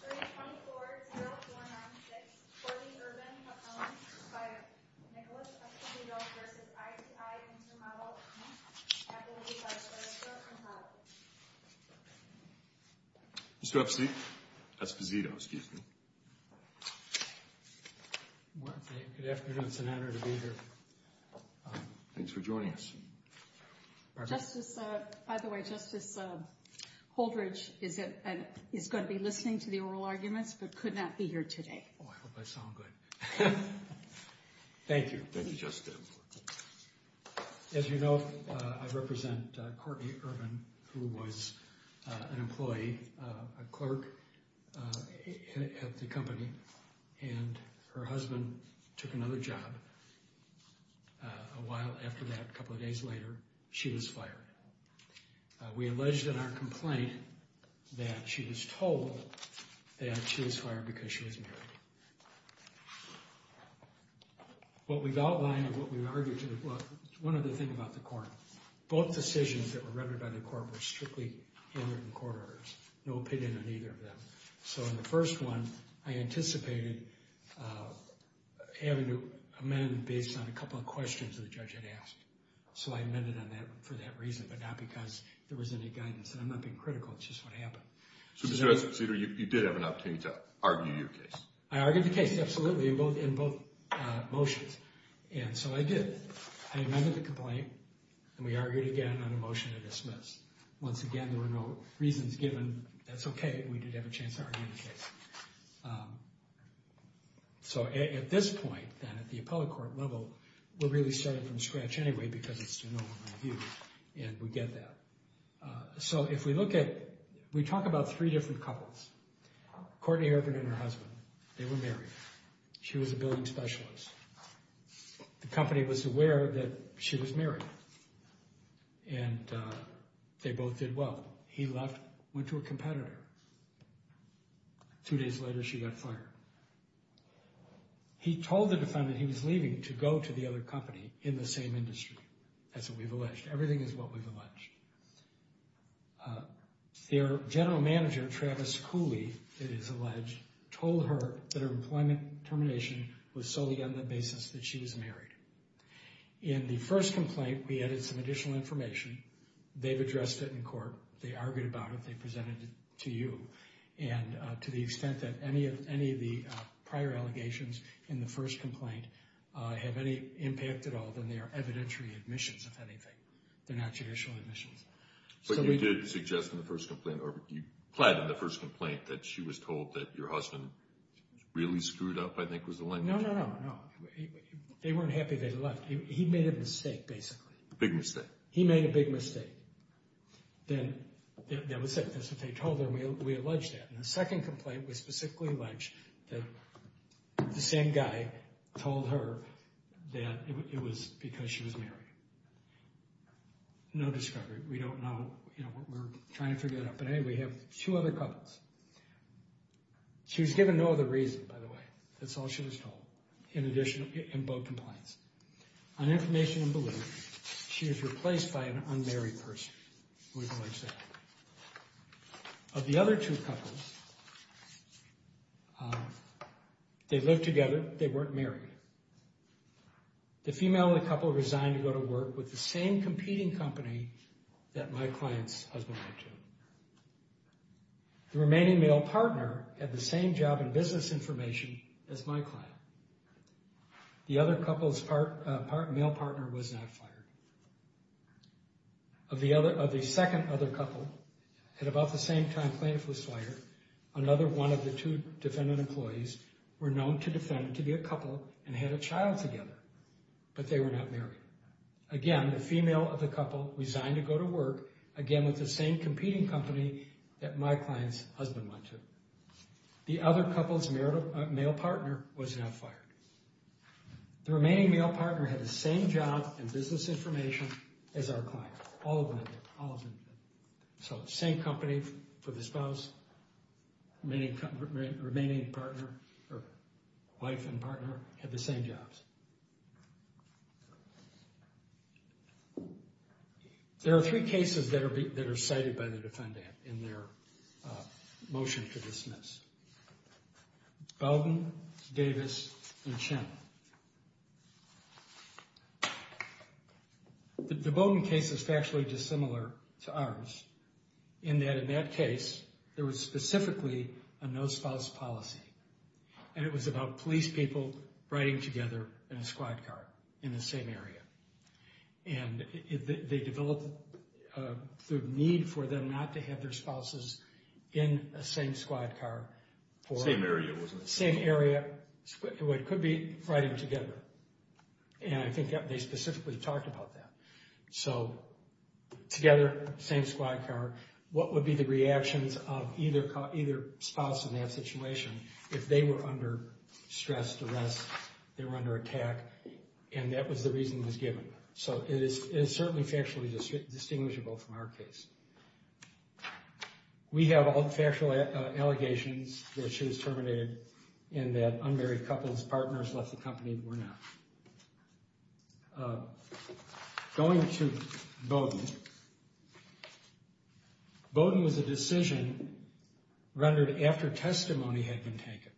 Appendix 324-0496, For the Urban, Hopeland, by Nicholas Esposito v. ITI Intermodal, Inc. Appendix 324-0496, For the Urban, Hopeland, Inc. Mr. Epstein? Esposito, excuse me. Good afternoon. It's an honor to be here. Thanks for joining us. Justice, by the way, Justice Holdridge is going to be listening to the oral arguments but could not be here today. Oh, I hope I sound good. Thank you. Thank you, Justice. As you know, I represent Courtney Urban, who was an employee, a clerk at the company, and her husband took another job. A while after that, a couple of days later, she was fired. We alleged in our complaint that she was told that she was fired because she was married. What we've outlined, what we've argued, one other thing about the court, both decisions that were rendered by the court were strictly in the court orders. No opinion on either of them. So in the first one, I anticipated having to amend based on a couple of questions the judge had asked. So I amended for that reason but not because there was any guidance. I'm not being critical. It's just what happened. So, Mr. Esposito, you did have an opportunity to argue your case. I argued the case, absolutely, in both motions. And so I did. I amended the complaint and we argued again on a motion to dismiss. Once again, there were no reasons given. That's okay. We did have a chance to argue the case. So at this point, then, at the appellate court level, we're really starting from scratch anyway because it's to no one's review, and we get that. So if we look at, we talk about three different couples, Courtney Urban and her husband. They were married. She was a billing specialist. The company was aware that she was married. And they both did well. He left, went to a competitor. Two days later, she got fired. He told the defendant he was leaving to go to the other company in the same industry. That's what we've alleged. Everything is what we've alleged. Their general manager, Travis Cooley, it is alleged, told her that her employment termination was solely on the basis that she was married. In the first complaint, we added some additional information. They've addressed it in court. They argued about it. They presented it to you. And to the extent that any of the prior allegations in the first complaint have any impact at all, then they are evidentiary admissions, if anything. They're not judicial admissions. But you did suggest in the first complaint, or you implied in the first complaint, that she was told that your husband really screwed up, I think was the language. No, no, no. They weren't happy that he left. He made a mistake, basically. A big mistake. He made a big mistake. That's what they told her. We allege that. In the second complaint, we specifically allege that the same guy told her that it was because she was married. No discovery. We don't know. We're trying to figure that out. But anyway, we have two other couples. She was given no other reason, by the way. That's all she was told. In addition, in both complaints. On information and belief, she is replaced by an unmarried person. We allege that. Of the other two couples, they lived together. They weren't married. The female in the couple resigned to go to work with the same competing company that my client's husband went to. The remaining male partner had the same job and business information as my client. The other couple's male partner was not fired. Of the second other couple, at about the same time plaintiff was fired, another one of the two defendant employees were known to defend to be a couple and had a child together. But they were not married. Again, the female of the couple resigned to go to work, again, with the same competing company that my client's husband went to. The other couple's male partner was not fired. The remaining male partner had the same job and business information as our client. All of them did. All of them did. So, same company for the spouse. Remaining partner, or wife and partner, had the same jobs. There are three cases that are cited by the defendant in their motion to dismiss. Bowden, Davis, and Chen. The Bowden case is factually dissimilar to ours in that, in that case, there was specifically a no spouse policy. And it was about police people riding together in a squad car in the same area. And they developed the need for them not to have their spouses in a same squad car. Same area, wasn't it? Same area. It could be riding together. And I think they specifically talked about that. So, together, same squad car. What would be the reactions of either spouse in that situation if they were under stressed arrest, they were under attack? And that was the reason it was given. So, it is certainly factually distinguishable from our case. We have all factual allegations that she was terminated and that unmarried couples, partners left the company, but we're not. Going to Bowden, Bowden was a decision rendered after testimony had been taken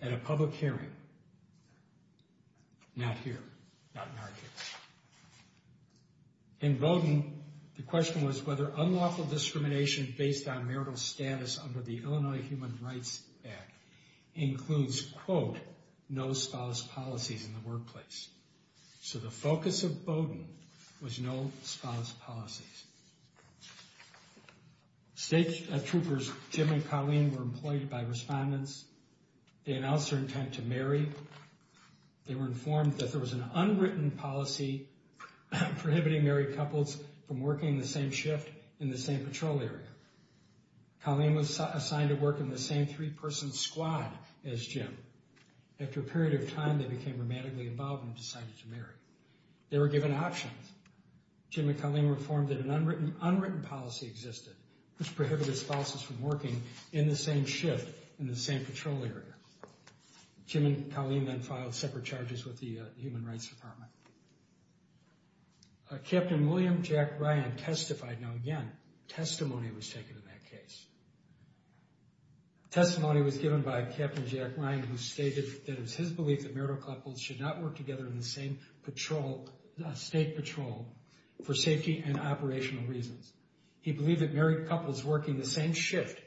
at a public hearing. Not here. Not in our case. In Bowden, the question was whether unlawful discrimination based on marital status under the Illinois Human Rights Act includes, quote, no spouse policies in the workplace. So, the focus of Bowden was no spouse policies. State troopers Jim and Colleen were employed by respondents. They announced their intent to marry. They were informed that there was an unwritten policy prohibiting married couples from working the same shift in the same patrol area. Colleen was assigned to work in the same three-person squad as Jim. After a period of time, they became romantically involved and decided to marry. They were given options. Jim and Colleen were informed that an unwritten policy existed which prohibited spouses from working in the same shift in the same patrol area. Jim and Colleen then filed separate charges with the Human Rights Department. Captain William Jack Ryan testified. Now, again, testimony was taken in that case. Testimony was given by Captain Jack Ryan who stated that it was his belief that marital couples should not work together in the same patrol, state patrol, for safety and operational reasons. He believed that married couples working the same shift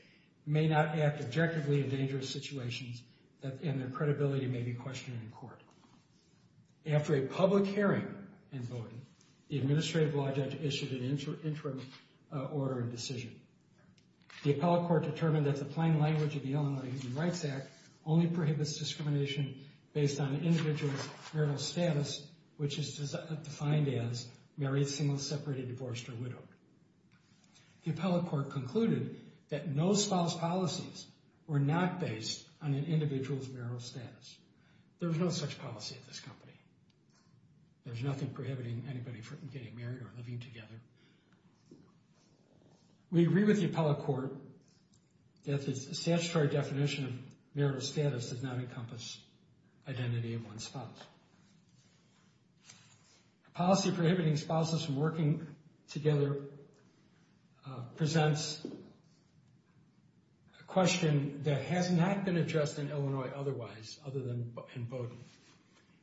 may not act objectively in dangerous situations and their credibility may be questioned in court. After a public hearing in Bowden, the administrative law judge issued an interim order and decision. The appellate court determined that the plain language of the Illinois Human Rights Act only prohibits discrimination based on an individual's marital status, which is defined as married, single, separated, divorced, or widowed. The appellate court concluded that no spouse policies were not based on an individual's marital status. There was no such policy at this company. There's nothing prohibiting anybody from getting married or living together. We agree with the appellate court that the statutory definition of marital status does not encompass identity of one's spouse. The policy prohibiting spouses from working together presents a question that has not been addressed in Illinois otherwise, other than in Bowden.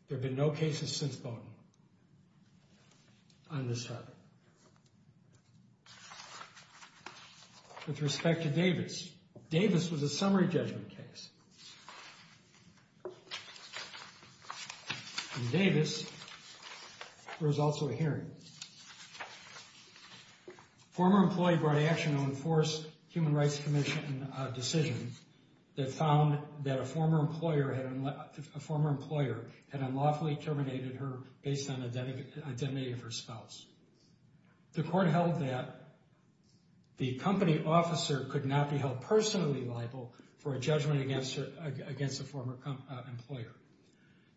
There have been no cases since Bowden on this heart. With respect to Davis, Davis was a summary judgment case. In Davis, there was also a hearing. A former employee brought action to enforce a Human Rights Commission decision that found that a former employer had unlawfully terminated her based on identity of her spouse. The court held that the company officer could not be held personally liable for a judgment against a former employer.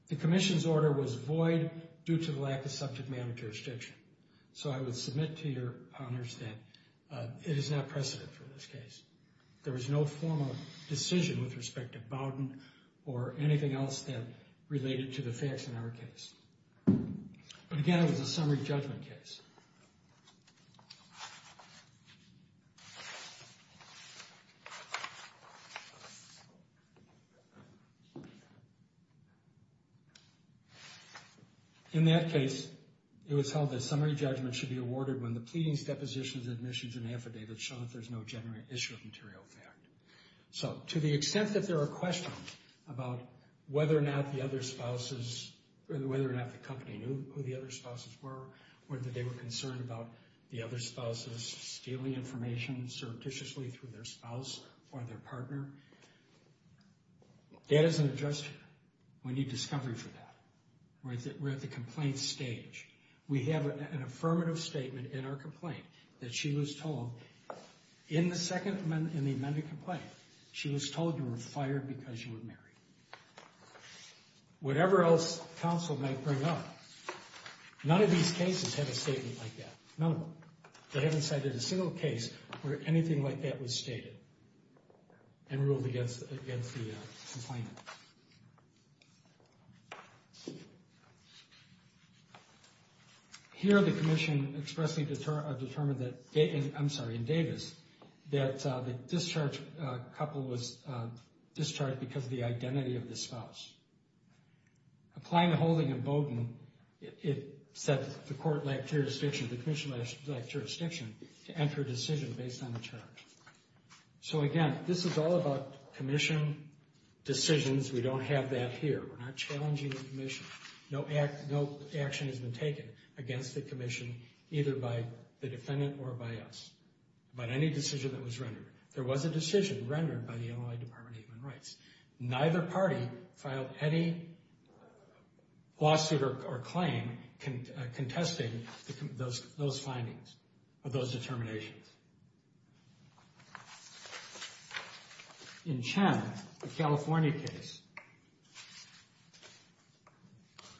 The commission's order was void due to the lack of subject matter jurisdiction. So I would submit to your honors that it is not precedent for this case. There was no formal decision with respect to Bowden or anything else that related to the facts in our case. But again, it was a summary judgment case. In that case, it was held that summary judgment should be awarded when the pleadings, depositions, admissions, and affidavits show that there's no genuine issue of material fact. So to the extent that there are questions about whether or not the company knew who the other spouses were, whether they were concerned about the other spouses stealing information surreptitiously through their spouse or their partner, that is an adjustment. We need discovery for that. We're at the complaint stage. We have an affirmative statement in our complaint that she was told in the second amendment in the amended complaint, she was told you were fired because you were married. Whatever else counsel may bring up, none of these cases have a statement like that. None of them. They haven't cited a single case where anything like that was stated and ruled against the complainant. Here the commission expressly determined that, I'm sorry, in Davis, that the discharged couple was discharged because of the identity of the spouse. Applying the holding in Bowden, it said the court lacked jurisdiction, the commission lacked jurisdiction to enter a decision based on the charge. So again, this is all about commission decisions. We don't have that here. We're not challenging the commission. No action has been taken against the commission, either by the defendant or by us, about any decision that was rendered. There was a decision rendered by the Illinois Department of Human Rights. Neither party filed any lawsuit or claim contesting those findings or those determinations. In Chen, a California case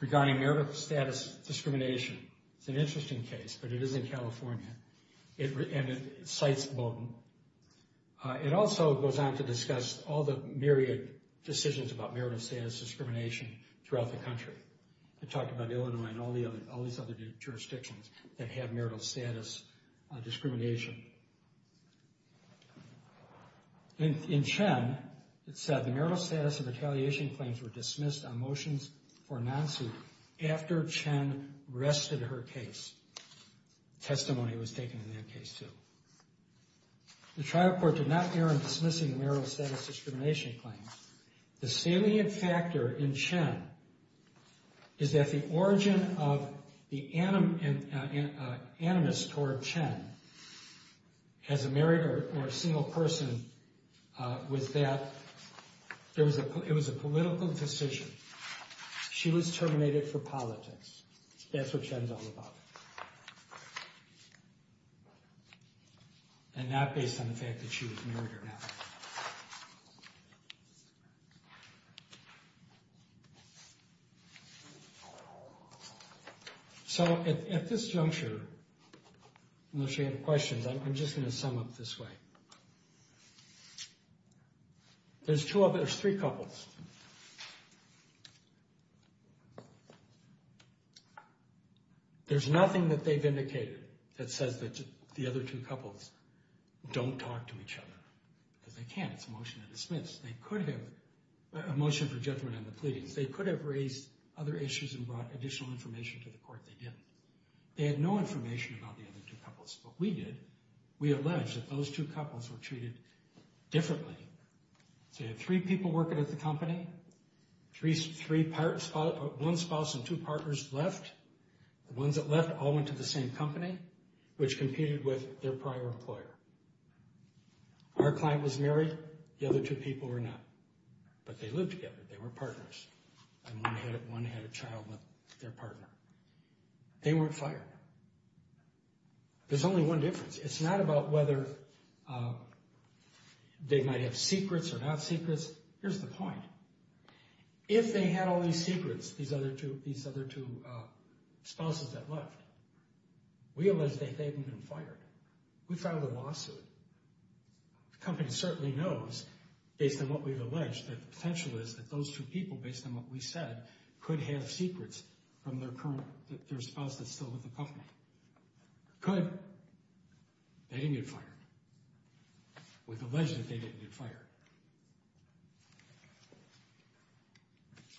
regarding marital status discrimination. It's an interesting case, but it is in California, and it cites Bowden. It also goes on to discuss all the myriad decisions about marital status discrimination throughout the country. It talked about Illinois and all these other jurisdictions that have marital status discrimination. In Chen, it said the marital status and retaliation claims were dismissed on motions for non-suit after Chen rested her case. Testimony was taken in that case, too. The trial court did not err in dismissing marital status discrimination claims. The salient factor in Chen is that the origin of the animus toward Chen as a married or a single person was that it was a political decision. She was terminated for politics. That's what Chen's all about. And not based on the fact that she was married or not. So at this juncture, unless you have questions, I'm just going to sum up this way. There's two others, three couples. There's nothing that they've indicated that says that the other two couples don't talk to each other. Because they can't. It's a motion to dismiss. They could have a motion for judgment on the pleadings. They could have raised other issues and brought additional information to the court. They didn't. They had no information about the other two couples. What we did, we alleged that those two couples were treated differently. So you had three people working at the company. One spouse and two partners left. The ones that left all went to the same company, which competed with their prior employer. Our client was married. The other two people were not. But they lived together. They were partners. And one had a child with their partner. They weren't fired. There's only one difference. It's not about whether they might have secrets or not secrets. Here's the point. If they had all these secrets, these other two spouses that left, we alleged that they hadn't been fired. We filed a lawsuit. The company certainly knows, based on what we've alleged, that the potential is that those two people, based on what we said, could have secrets from their spouse that's still with the company. Could. They didn't get fired. We've alleged that they didn't get fired.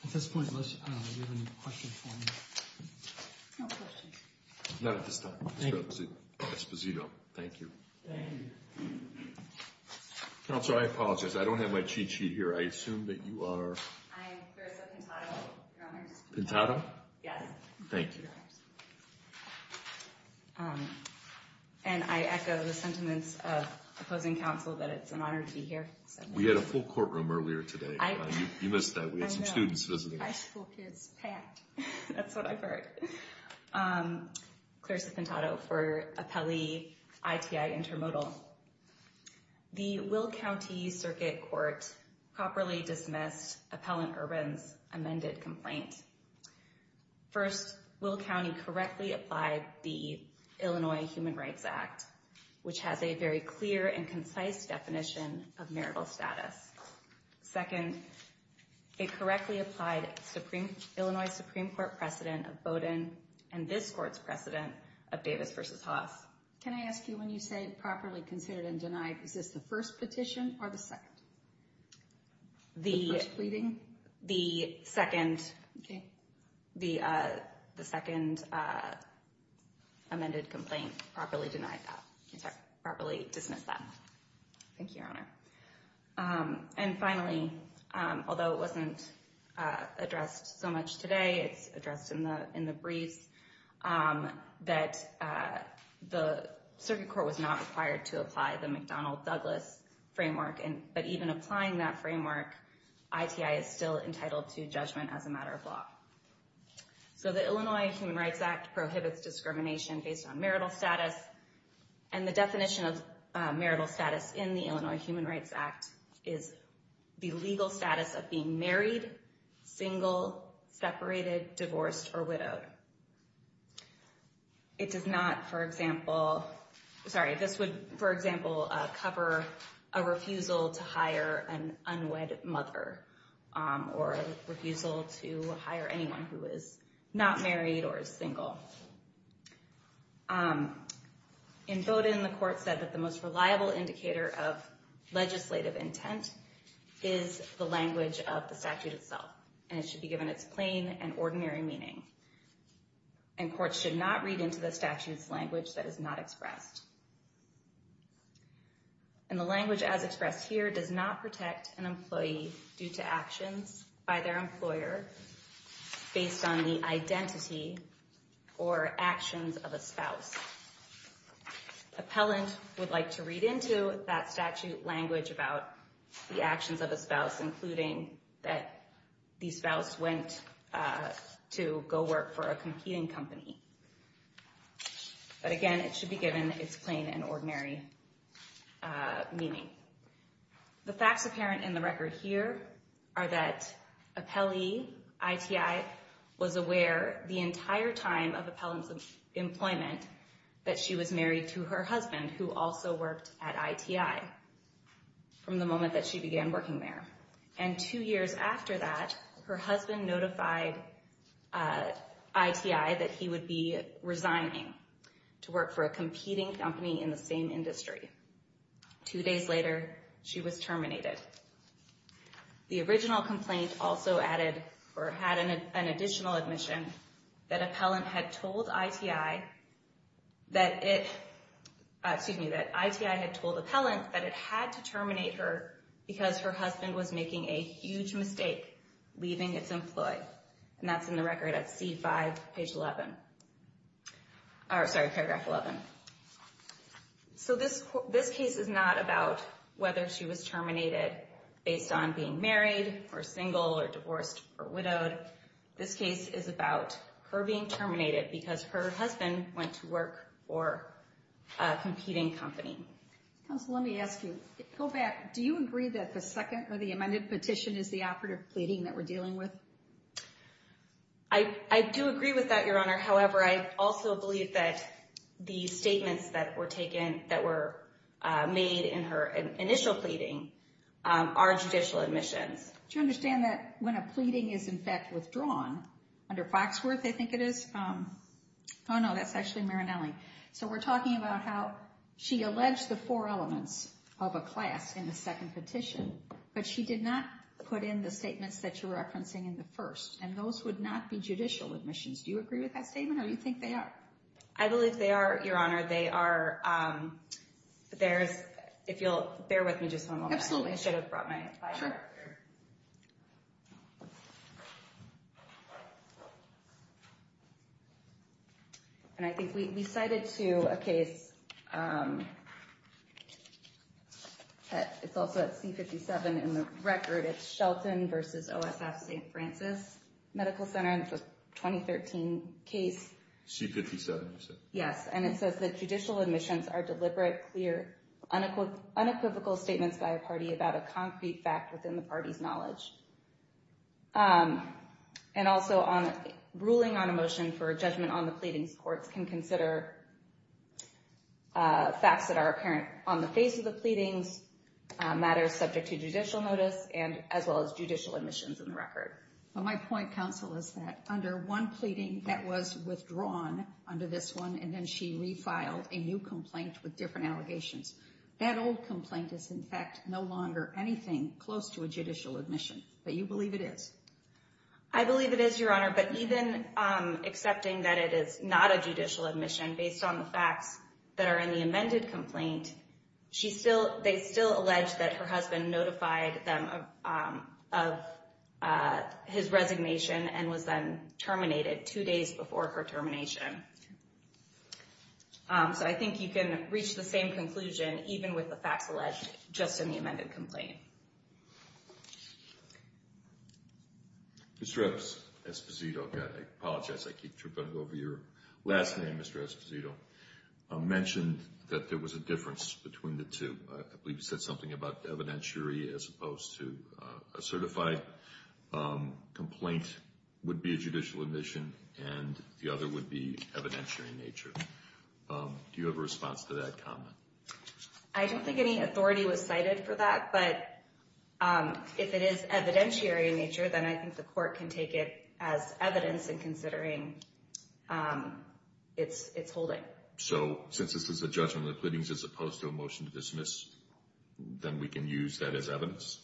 At this point, do you have any questions for me? No questions. None at this time. Thank you. Esposito. Thank you. Thank you. Counselor, I apologize. I don't have my cheat sheet here. I assume that you are? I am Clarissa Pintado, Your Honors. Pintado? Yes. Thank you. And I echo the sentiments of opposing counsel that it's an honor to be here. We had a full courtroom earlier today. You missed that. We had some students visit. High school kids packed. That's what I heard. Clarissa Pintado for Appellee ITI Intermodal. The Will County Circuit Court properly dismissed Appellant Urban's amended complaint. First, Will County correctly applied the Illinois Human Rights Act, which has a very clear and concise definition of marital status. Second, it correctly applied Illinois Supreme Court precedent of Bowdoin and this court's precedent of Davis v. Haas. Can I ask you, when you say properly considered and denied, is this the first petition or the second? The first pleading? The second amended complaint properly denied that, properly dismissed that. Thank you, Your Honor. And finally, although it wasn't addressed so much today, it's addressed in the briefs, that the Circuit Court was not required to apply the McDonnell-Douglas framework, but even applying that framework, ITI is still entitled to judgment as a matter of law. So the Illinois Human Rights Act prohibits discrimination based on marital status and the definition of marital status in the Illinois Human Rights Act is the legal status of being married, single, separated, divorced, or widowed. It does not, for example, cover a refusal to hire an unwed mother or a refusal to hire anyone who is not married or is single. In Bowdoin, the court said that the most reliable indicator of legislative intent is the language of the statute itself, and it should be given its plain and ordinary meaning. And courts should not read into the statute's language that is not expressed. And the language as expressed here does not protect an employee due to actions by their employer based on the identity or actions of a spouse. Appellant would like to read into that statute language about the actions of a spouse, including that the spouse went to go work for a competing company. But again, it should be given its plain and ordinary meaning. The facts apparent in the record here are that appellee, ITI, was aware the entire time of appellant's employment that she was married to her husband who also worked at ITI from the moment that she began working there. And two years after that, her husband notified ITI that he would be resigning to work for a competing company in the same industry. Two days later, she was terminated. The original complaint also added or had an additional admission that appellant had told ITI that it, excuse me, that ITI had told appellant that it had to terminate her because her husband was making a huge mistake leaving its employee. And that's in the record at C5, page 11. Sorry, paragraph 11. So this case is not about whether she was terminated based on being married or single or divorced or widowed. This case is about her being terminated because her husband went to work for a competing company. Counsel, let me ask you. Go back. Do you agree that the second or the amended petition is the operative pleading that we're dealing with? I do agree with that, Your Honor. However, I also believe that the statements that were taken that were made in her initial pleading are judicial admissions. Do you understand that when a pleading is, in fact, withdrawn under Foxworth, I think it is? Oh, no, that's actually Marinelli. So we're talking about how she alleged the four elements of a class in the second petition, but she did not put in the statements that you're referencing in the first, and those would not be judicial admissions. Do you agree with that statement, or do you think they are? I believe they are, Your Honor. They are. If you'll bear with me just one moment. Absolutely. I should have brought my flyer up here. Sure. And I think we cited to a case that's also at C57 in the record. It's Shelton v. OSF St. Francis Medical Center, and it's a 2013 case. C57, you said? Yes, and it says that judicial admissions are deliberate, clear, unequivocal statements by a party about a concrete fact within the party's knowledge. And also ruling on a motion for a judgment on the pleadings, courts can consider facts that are apparent on the face of the pleadings, matters subject to judicial notice, as well as judicial admissions in the record. Well, my point, counsel, is that under one pleading that was withdrawn under this one, and then she refiled a new complaint with different allegations, that old complaint is, in fact, no longer anything close to a judicial admission. But you believe it is? I believe it is, Your Honor. But even accepting that it is not a judicial admission based on the facts that are in the amended complaint, they still allege that her husband notified them of his resignation and was then terminated two days before her termination. So I think you can reach the same conclusion even with the facts alleged just in the amended complaint. Mr. Esposito, I apologize, I keep tripping over your last name, Mr. Esposito, mentioned that there was a difference between the two. I believe you said something about evidentiary as opposed to a certified complaint would be a judicial admission and the other would be evidentiary in nature. Do you have a response to that comment? I don't think any authority was cited for that, but if it is evidentiary in nature, then I think the court can take it as evidence in considering its holding. So since this is a judgment of the pleadings as opposed to a motion to dismiss, then we can use that as evidence?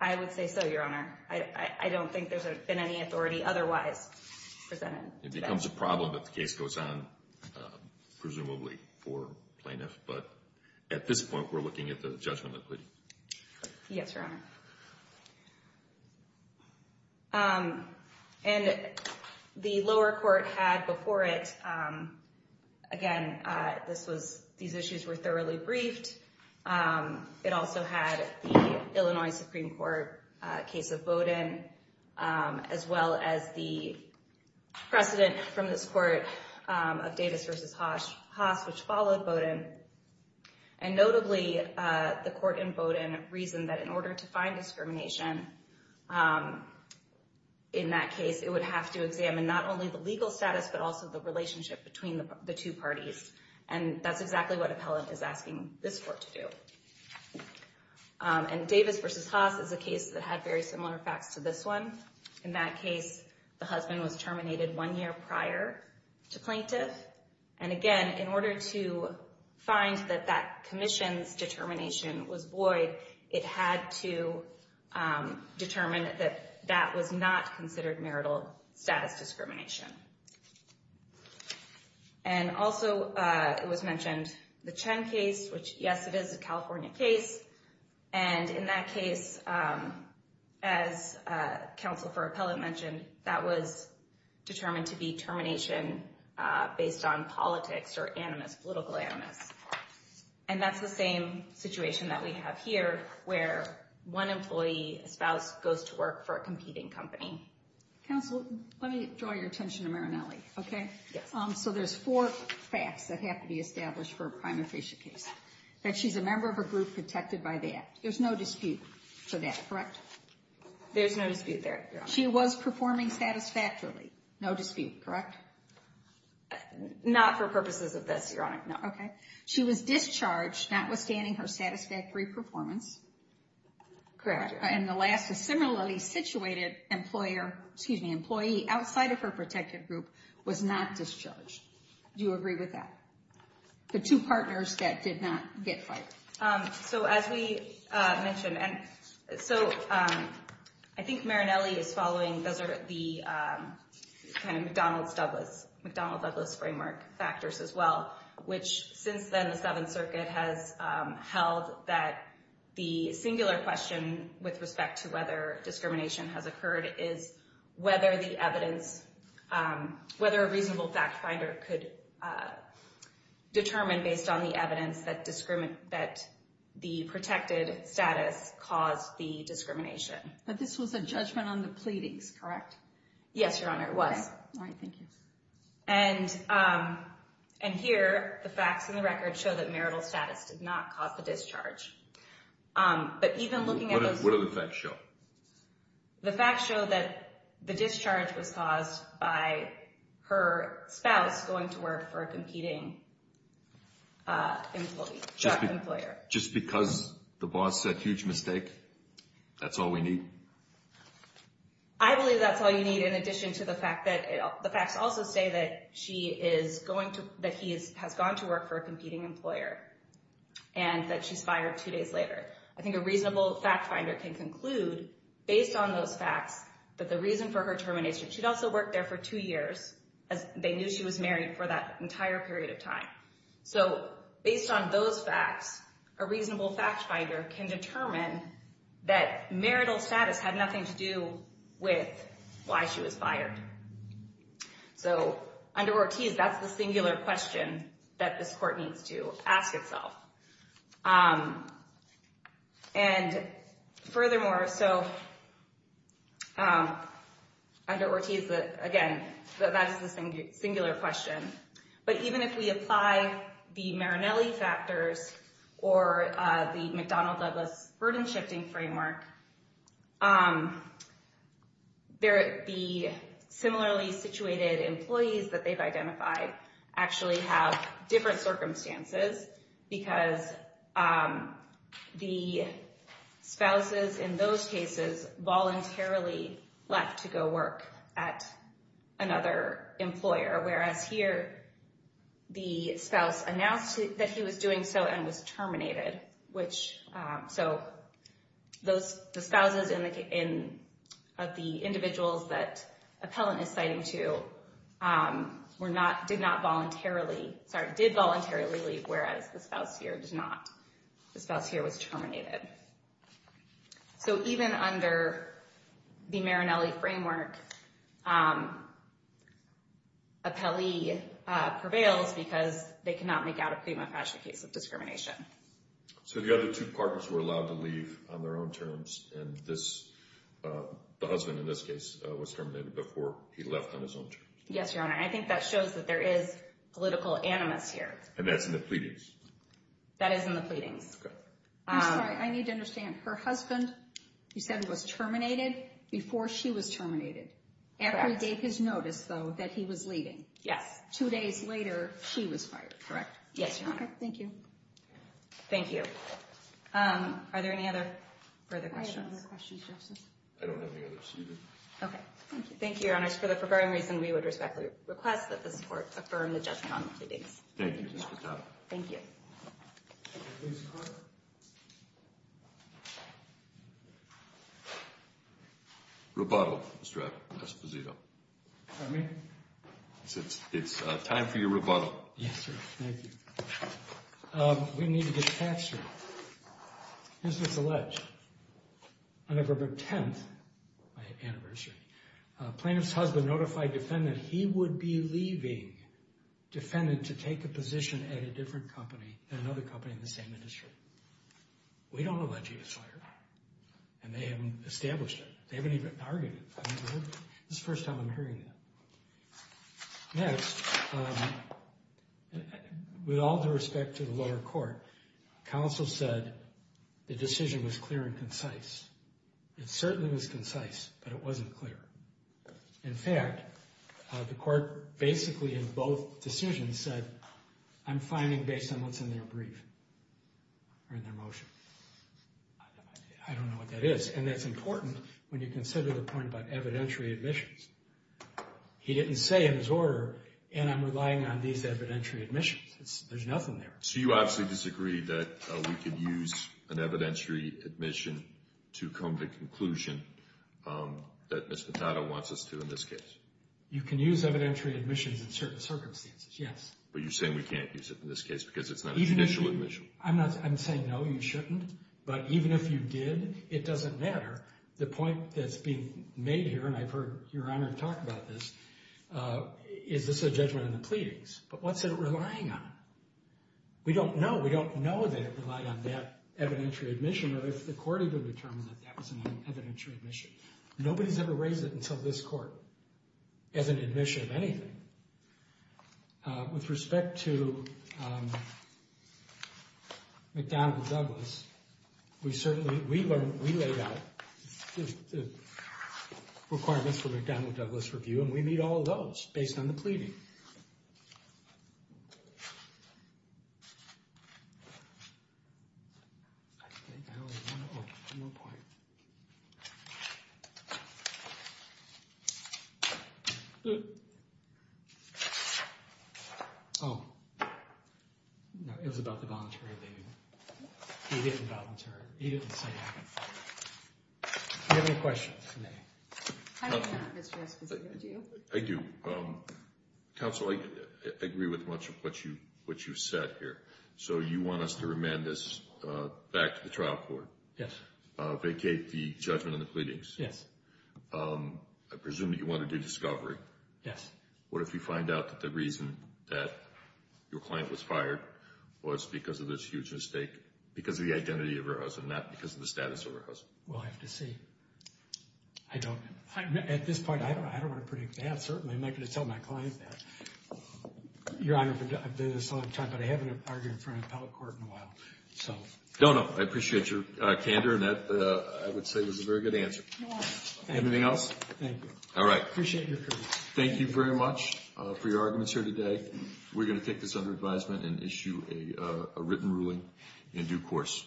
I would say so, Your Honor. I don't think there's been any authority otherwise presented. It becomes a problem if the case goes on, presumably for plaintiffs, but at this point we're looking at the judgment of the pleading. Yes, Your Honor. And the lower court had before it, again, these issues were thoroughly briefed. It also had the Illinois Supreme Court case of Bowdoin, as well as the precedent from this court of Davis v. Haas, which followed Bowdoin. And notably, the court in Bowdoin reasoned that in order to find discrimination in that case, it would have to examine not only the legal status, but also the relationship between the two parties. And that's exactly what appellant is asking this court to do. And Davis v. Haas is a case that had very similar facts to this one. In that case, the husband was terminated one year prior to plaintiff. And again, in order to find that that commission's determination was void, it had to determine that that was not considered marital status discrimination. And also, it was mentioned the Chen case, which, yes, it is a California case. And in that case, as counsel for appellant mentioned, that was determined to be termination based on politics or animus, political animus. And that's the same situation that we have here, where one employee, a spouse, goes to work for a competing company. Counsel, let me draw your attention to Marinelli, okay? So there's four facts that have to be established for a prima facie case. That she's a member of a group protected by that. There's no dispute for that, correct? There's no dispute there, Your Honor. She was performing satisfactorily. No dispute, correct? Not for purposes of this, Your Honor. No, okay. She was discharged, notwithstanding her satisfactory performance. Correct. And the last, a similarly situated employer, excuse me, employee outside of her protected group was not discharged. Do you agree with that? The two partners that did not get fired. So as we mentioned, and so I think Marinelli is following, those are the kind of McDonald's-Douglas, McDonald-Douglas framework factors as well, which since then the Seventh Circuit has held that the singular question with respect to whether discrimination has occurred is whether the evidence, whether a reasonable fact finder could determine based on the evidence that the protected status caused the discrimination. But this was a judgment on the pleadings, correct? Yes, Your Honor, it was. All right, thank you. And here, the facts in the record show that marital status did not cause the discharge. But even looking at those. What do the facts show? The facts show that the discharge was caused by her spouse going to work for a competing employer. Just because the boss said huge mistake, that's all we need? I believe that's all you need in addition to the fact that the facts also say that she is going to, that he has gone to work for a competing employer and that she's fired two days later. I think a reasonable fact finder can conclude based on those facts that the reason for her termination, she'd also worked there for two years, they knew she was married for that entire period of time. So based on those facts, a reasonable fact finder can determine that marital status had nothing to do with why she was fired. So under Ortiz, that's the singular question that this court needs to ask itself. And furthermore, so under Ortiz, again, that is the singular question. But even if we apply the Marinelli factors or the McDonnell-Douglas burden-shifting framework, the similarly situated employees that they've identified actually have different circumstances because the spouses in those cases voluntarily left to go work at another employer. Whereas here, the spouse announced that he was doing so and was terminated. So the spouses of the individuals that appellant is citing to did not voluntarily, sorry, did voluntarily leave, whereas the spouse here did not. The spouse here was terminated. So even under the Marinelli framework, appellee prevails because they cannot make out a prima facie case of discrimination. So the other two partners were allowed to leave on their own terms, and the husband in this case was terminated before he left on his own terms. Yes, Your Honor. I think that shows that there is political animus here. And that's in the pleadings? That is in the pleadings. I'm sorry, I need to understand. Her husband, you said he was terminated before she was terminated. Correct. After he gave his notice, though, that he was leaving. Yes. Two days later, she was fired, correct? Yes, Your Honor. Okay, thank you. Thank you. Are there any other further questions? I have no other questions, Justice. I don't have any other proceedings. Okay. Thank you. Thank you, Your Honors. For the purporting reason, we would respectfully request that this Court affirm the judgment on the pleadings. Thank you. Thank you. Mr. Clark? Rebuttal, Mr. Esposito. Pardon me? It's time for your rebuttal. Yes, sir. Thank you. We need to get to the facts, sir. This is alleged. On November 10th, my anniversary, plaintiff's husband notified defendant he would be leaving defendant to take a position at a different company, at another company in the same industry. We don't allege he was fired. And they haven't established it. They haven't even argued it. This is the first time I'm hearing that. Next, with all due respect to the lower court, counsel said the decision was clear and concise. It certainly was concise, but it wasn't clear. In fact, the court basically in both decisions said, I'm finding based on what's in their brief, or in their motion. I don't know what that is. And that's important when you consider the point about evidentiary admissions. He didn't say in his order, and I'm relying on these evidentiary admissions. There's nothing there. So you obviously disagree that we could use an evidentiary admission to come to the conclusion that Ms. Mathado wants us to in this case. You can use evidentiary admissions in certain circumstances, yes. But you're saying we can't use it in this case, because it's not a judicial admission. I'm saying no, you shouldn't. But even if you did, it doesn't matter. The point that's being made here, and I've heard Your Honor talk about this, is this a judgment in the pleadings? But what's it relying on? We don't know. We don't know that it relied on that evidentiary admission, or if the court even determined that that was an evidentiary admission. Nobody's ever raised it until this court, as an admission of anything. With respect to McDonnell-Douglas, we laid out the requirements for McDonnell-Douglas' review, and we meet all those, based on the pleading. Oh, one more point. Oh. No, it was about the voluntary leave. He didn't volunteer it. He didn't say anything. Do you have any questions for me? I don't have, Mr. Esposito. Do you? I do. Counsel, I agree with much of what you've said here. So you want us to remand this back to the trial court? Vacate the judgment in the pleadings? Yes. I presume that you want to do discovery. Yes. What if you find out that the reason that your client was fired was because of this huge mistake, because of the identity of her husband, not because of the status of her husband? We'll have to see. At this point, I don't want to predict that, certainly. I'm not going to tell my client that. Your Honor, I've been here a long time, but I haven't argued in front of appellate court in a while. No, no. I appreciate your candor, and that, I would say, was a very good answer. Anything else? Thank you. All right. Appreciate your courage. Thank you very much for your arguments here today. We're going to take this under advisement and issue a written ruling in due course.